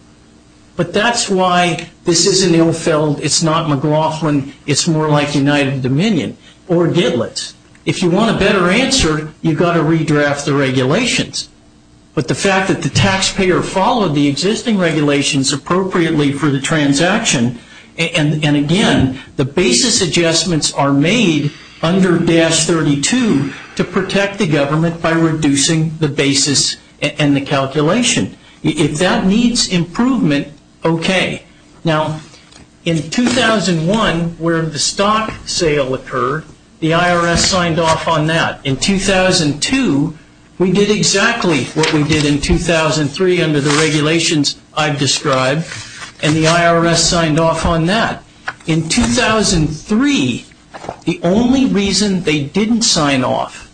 But that's why this isn't Ilfeld. It's not McLaughlin. It's more like United Dominion or Gitlet. If you want a better answer, you've got to redraft the regulations. But the fact that the taxpayer followed the existing regulations appropriately for the transaction, and again, the basis adjustments are made under 1.1502-32 to protect the government by reducing the basis and the calculation. If that needs improvement, okay. Now, in 2001, where the stock sale occurred, the IRS signed off on that. In 2002, we did exactly what we did in 2003 under the regulations I've described, and the IRS signed off on that. In 2003, the only reason they didn't sign off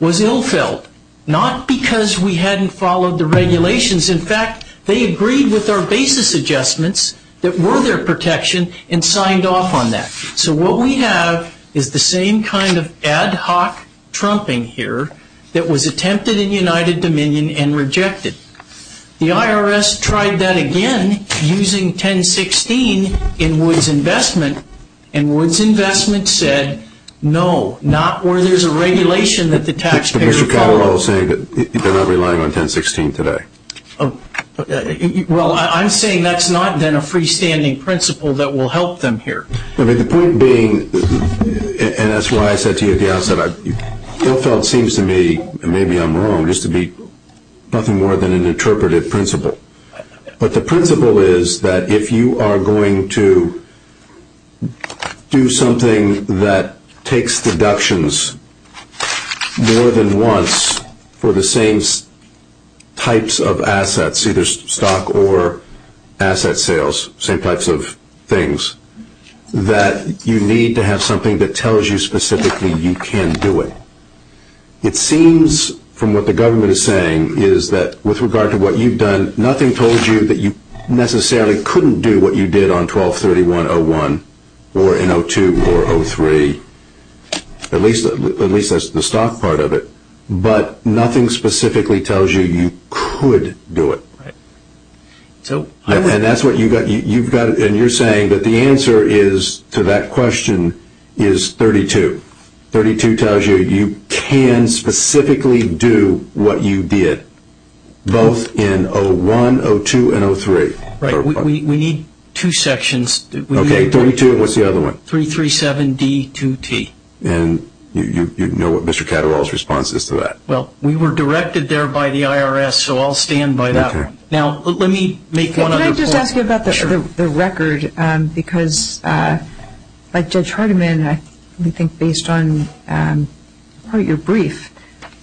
was Ilfeld. Not because we hadn't followed the regulations. In fact, they agreed with our basis adjustments that were their protection and signed off on that. So what we have is the same kind of ad hoc trumping here that was attempted in United Dominion and rejected. The IRS tried that again using 1016 in Woods Investment, and Woods Investment said no, not where there's a regulation that the taxpayer followed. But Mr. Calderwell is saying that they're not relying on 1016 today. Well, I'm saying that's not then a freestanding principle that will help them here. I mean, the point being, and that's why I said to you at the outset, Ilfeld seems to me, and maybe I'm wrong, just to be nothing more than an interpretive principle. But the principle is that if you are going to do something that takes deductions more than once for the same types of assets, either stock or asset sales, same types of things, that you need to have something that tells you specifically you can do it. It seems from what the government is saying is that with regard to what you've done, nothing told you that you necessarily couldn't do what you did on 1231.01 or in 02 or 03, at least that's the stock part of it. But nothing specifically tells you you could do it. And you're saying that the answer to that question is 32. 32 tells you you can specifically do what you did, both in 01, 02, and 03. Right. We need two sections. Okay, 32. What's the other one? 337D2T. And you know what Mr. Catterall's response is to that. Well, we were directed there by the IRS, so I'll stand by that. Okay. Now, let me make one other point. Let me ask you about the record because, like Judge Hardiman, I think based on your brief,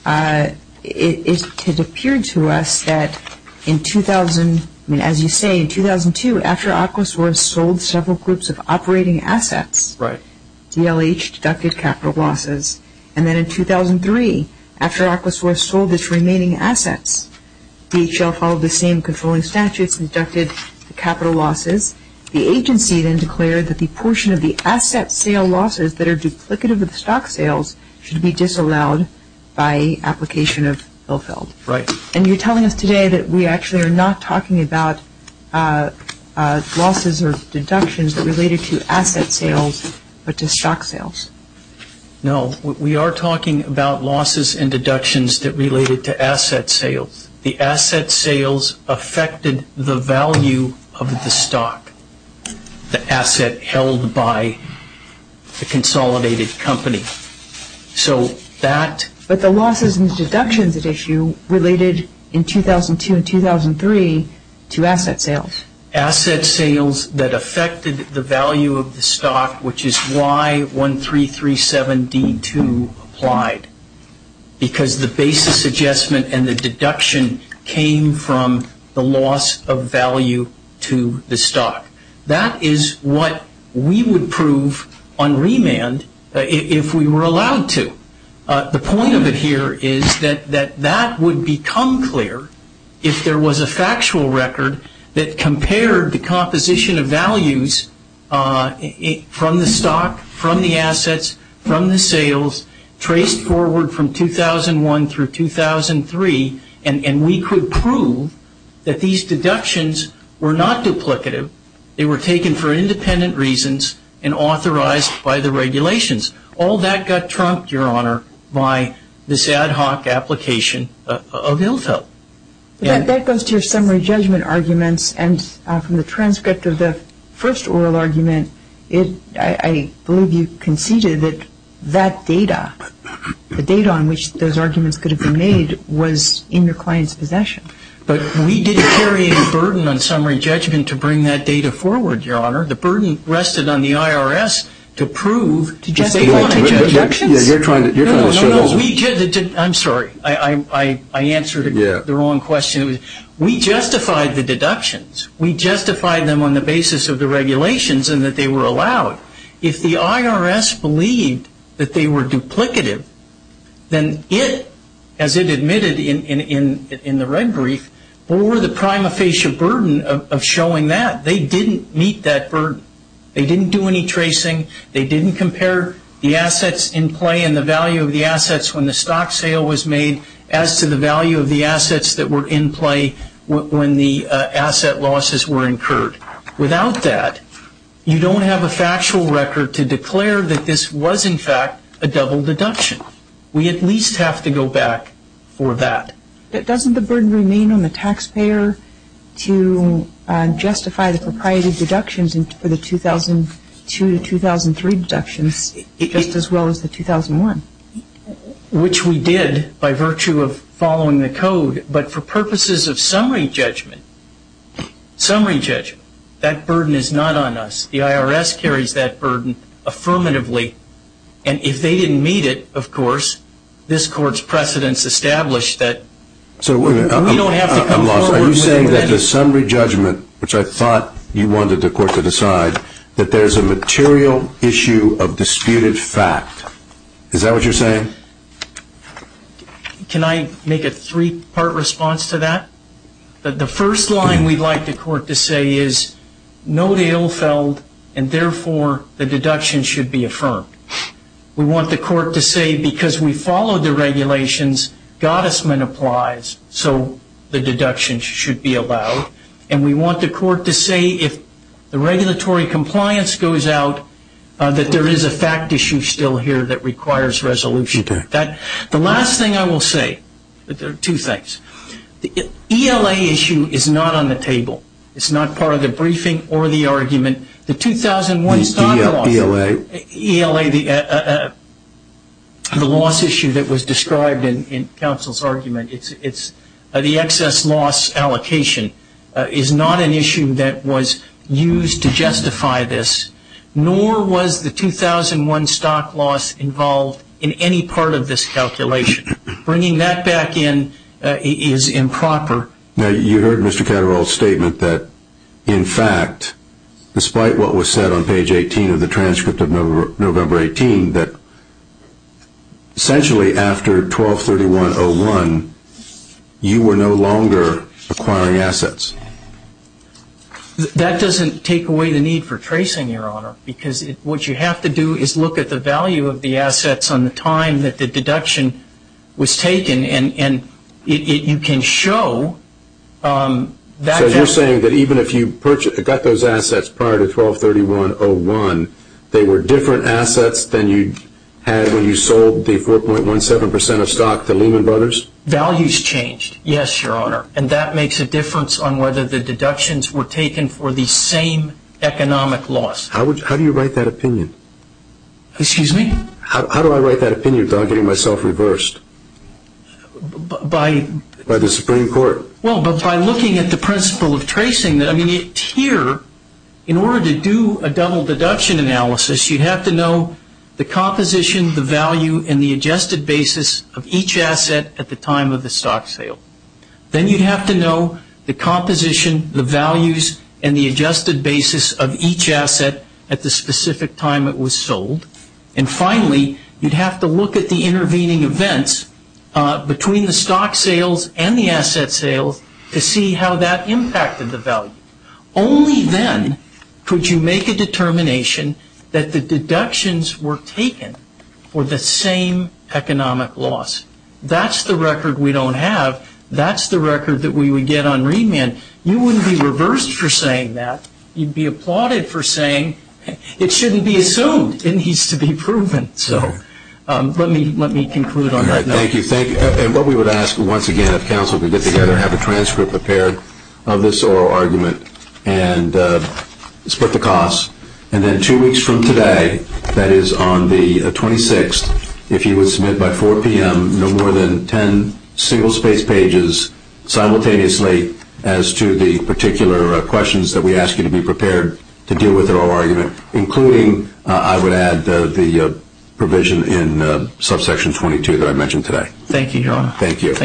it appeared to us that in 2000, I mean, as you say, in 2002, after Aquasource sold several groups of operating assets, DLH deducted capital losses. And then in 2003, after Aquasource sold its remaining assets, DHL followed the same controlling statutes and deducted the capital losses. The agency then declared that the portion of the asset sale losses that are duplicative of stock sales should be disallowed by application of bill filled. Right. And you're telling us today that we actually are not talking about losses or deductions that are related to asset sales but to stock sales. No. We are talking about losses and deductions that related to asset sales. The asset sales affected the value of the stock, the asset held by the consolidated company. So that... But the losses and deductions at issue related in 2002 and 2003 to asset sales. asset sales that affected the value of the stock, which is why 1337D2 applied, because the basis adjustment and the deduction came from the loss of value to the stock. That is what we would prove on remand if we were allowed to. The point of it here is that that would become clear if there was a factual record that compared the composition of values from the stock, from the assets, from the sales, traced forward from 2001 through 2003, and we could prove that these deductions were not duplicative. They were taken for independent reasons and authorized by the regulations. All that got trumped, Your Honor, by this ad hoc application of ILFO. That goes to your summary judgment arguments, and from the transcript of the first oral argument, I believe you conceded that that data, the data on which those arguments could have been made, was in your client's possession. But we didn't carry any burden on summary judgment to bring that data forward, Your Honor. The burden rested on the IRS to prove to justify the deductions. I'm sorry. I answered the wrong question. We justified the deductions. We justified them on the basis of the regulations and that they were allowed. If the IRS believed that they were duplicative, then it, as it admitted in the red brief, bore the prima facie burden of showing that. They didn't meet that burden. They didn't do any tracing. They didn't compare the assets in play and the value of the assets when the stock sale was made as to the value of the assets that were in play when the asset losses were incurred. Without that, you don't have a factual record to declare that this was, in fact, a double deduction. We at least have to go back for that. But doesn't the burden remain on the taxpayer to justify the proprietary deductions for the 2002 to 2003 deductions just as well as the 2001? Which we did by virtue of following the code. But for purposes of summary judgment, summary judgment, that burden is not on us. The IRS carries that burden affirmatively. And if they didn't meet it, of course, this Court's precedents establish that we don't have to come forward with any... Are you saying that the summary judgment, which I thought you wanted the Court to decide, that there's a material issue of disputed fact? Is that what you're saying? Can I make a three-part response to that? The first line we'd like the Court to say is, no deal fell, and therefore, the deduction should be affirmed. We want the Court to say, because we followed the regulations, Gottesman applies, so the deduction should be allowed. And we want the Court to say, if the regulatory compliance goes out, that there is a fact issue still here that requires resolution. The last thing I will say, there are two things. The ELA issue is not on the table. It's not part of the briefing or the argument. The 2001 stock loss... ELA. ELA, the loss issue that was described in counsel's argument, the excess loss allocation is not an issue that was used to justify this, nor was the 2001 stock loss involved in any part of this calculation. Bringing that back in is improper. Now, you heard Mr. Catterall's statement that, in fact, despite what was said on page 18 of the transcript of November 18, that essentially after 12-31-01, you were no longer acquiring assets. That doesn't take away the need for tracing, Your Honor, because what you have to do is look at the value of the assets on the time that the deduction was taken, and you can show that... So you're saying that even if you got those assets prior to 12-31-01, they were different assets than you had when you sold the 4.17 percent of stock to Lehman Brothers? Values changed, yes, Your Honor. And that makes a difference on whether the deductions were taken for the same economic loss. How do you write that opinion? Excuse me? How do I write that opinion without getting myself reversed by the Supreme Court? Well, by looking at the principle of tracing. I mean, here, in order to do a double deduction analysis, you'd have to know the composition, the value, and the adjusted basis of each asset at the time of the stock sale. Then you'd have to know the composition, the values, and the adjusted basis of each asset at the specific time it was sold. And finally, you'd have to look at the intervening events between the stock sales and the asset sales to see how that impacted the value. Only then could you make a determination that the deductions were taken for the same economic loss. That's the record we don't have. That's the record that we would get on remand. You wouldn't be reversed for saying that. You'd be applauded for saying it shouldn't be assumed. It needs to be proven. So let me conclude on that note. Thank you. And what we would ask, once again, if counsel could get together and have a transcript prepared of this oral argument and split the costs. And then two weeks from today, that is on the 26th, if you would submit by 4 p.m. no more than 10 single-spaced pages simultaneously as to the particular questions that we ask you to be prepared to deal with at oral argument, including, I would add, the provision in subsection 22 that I mentioned today. Thank you, Your Honor. Thank you.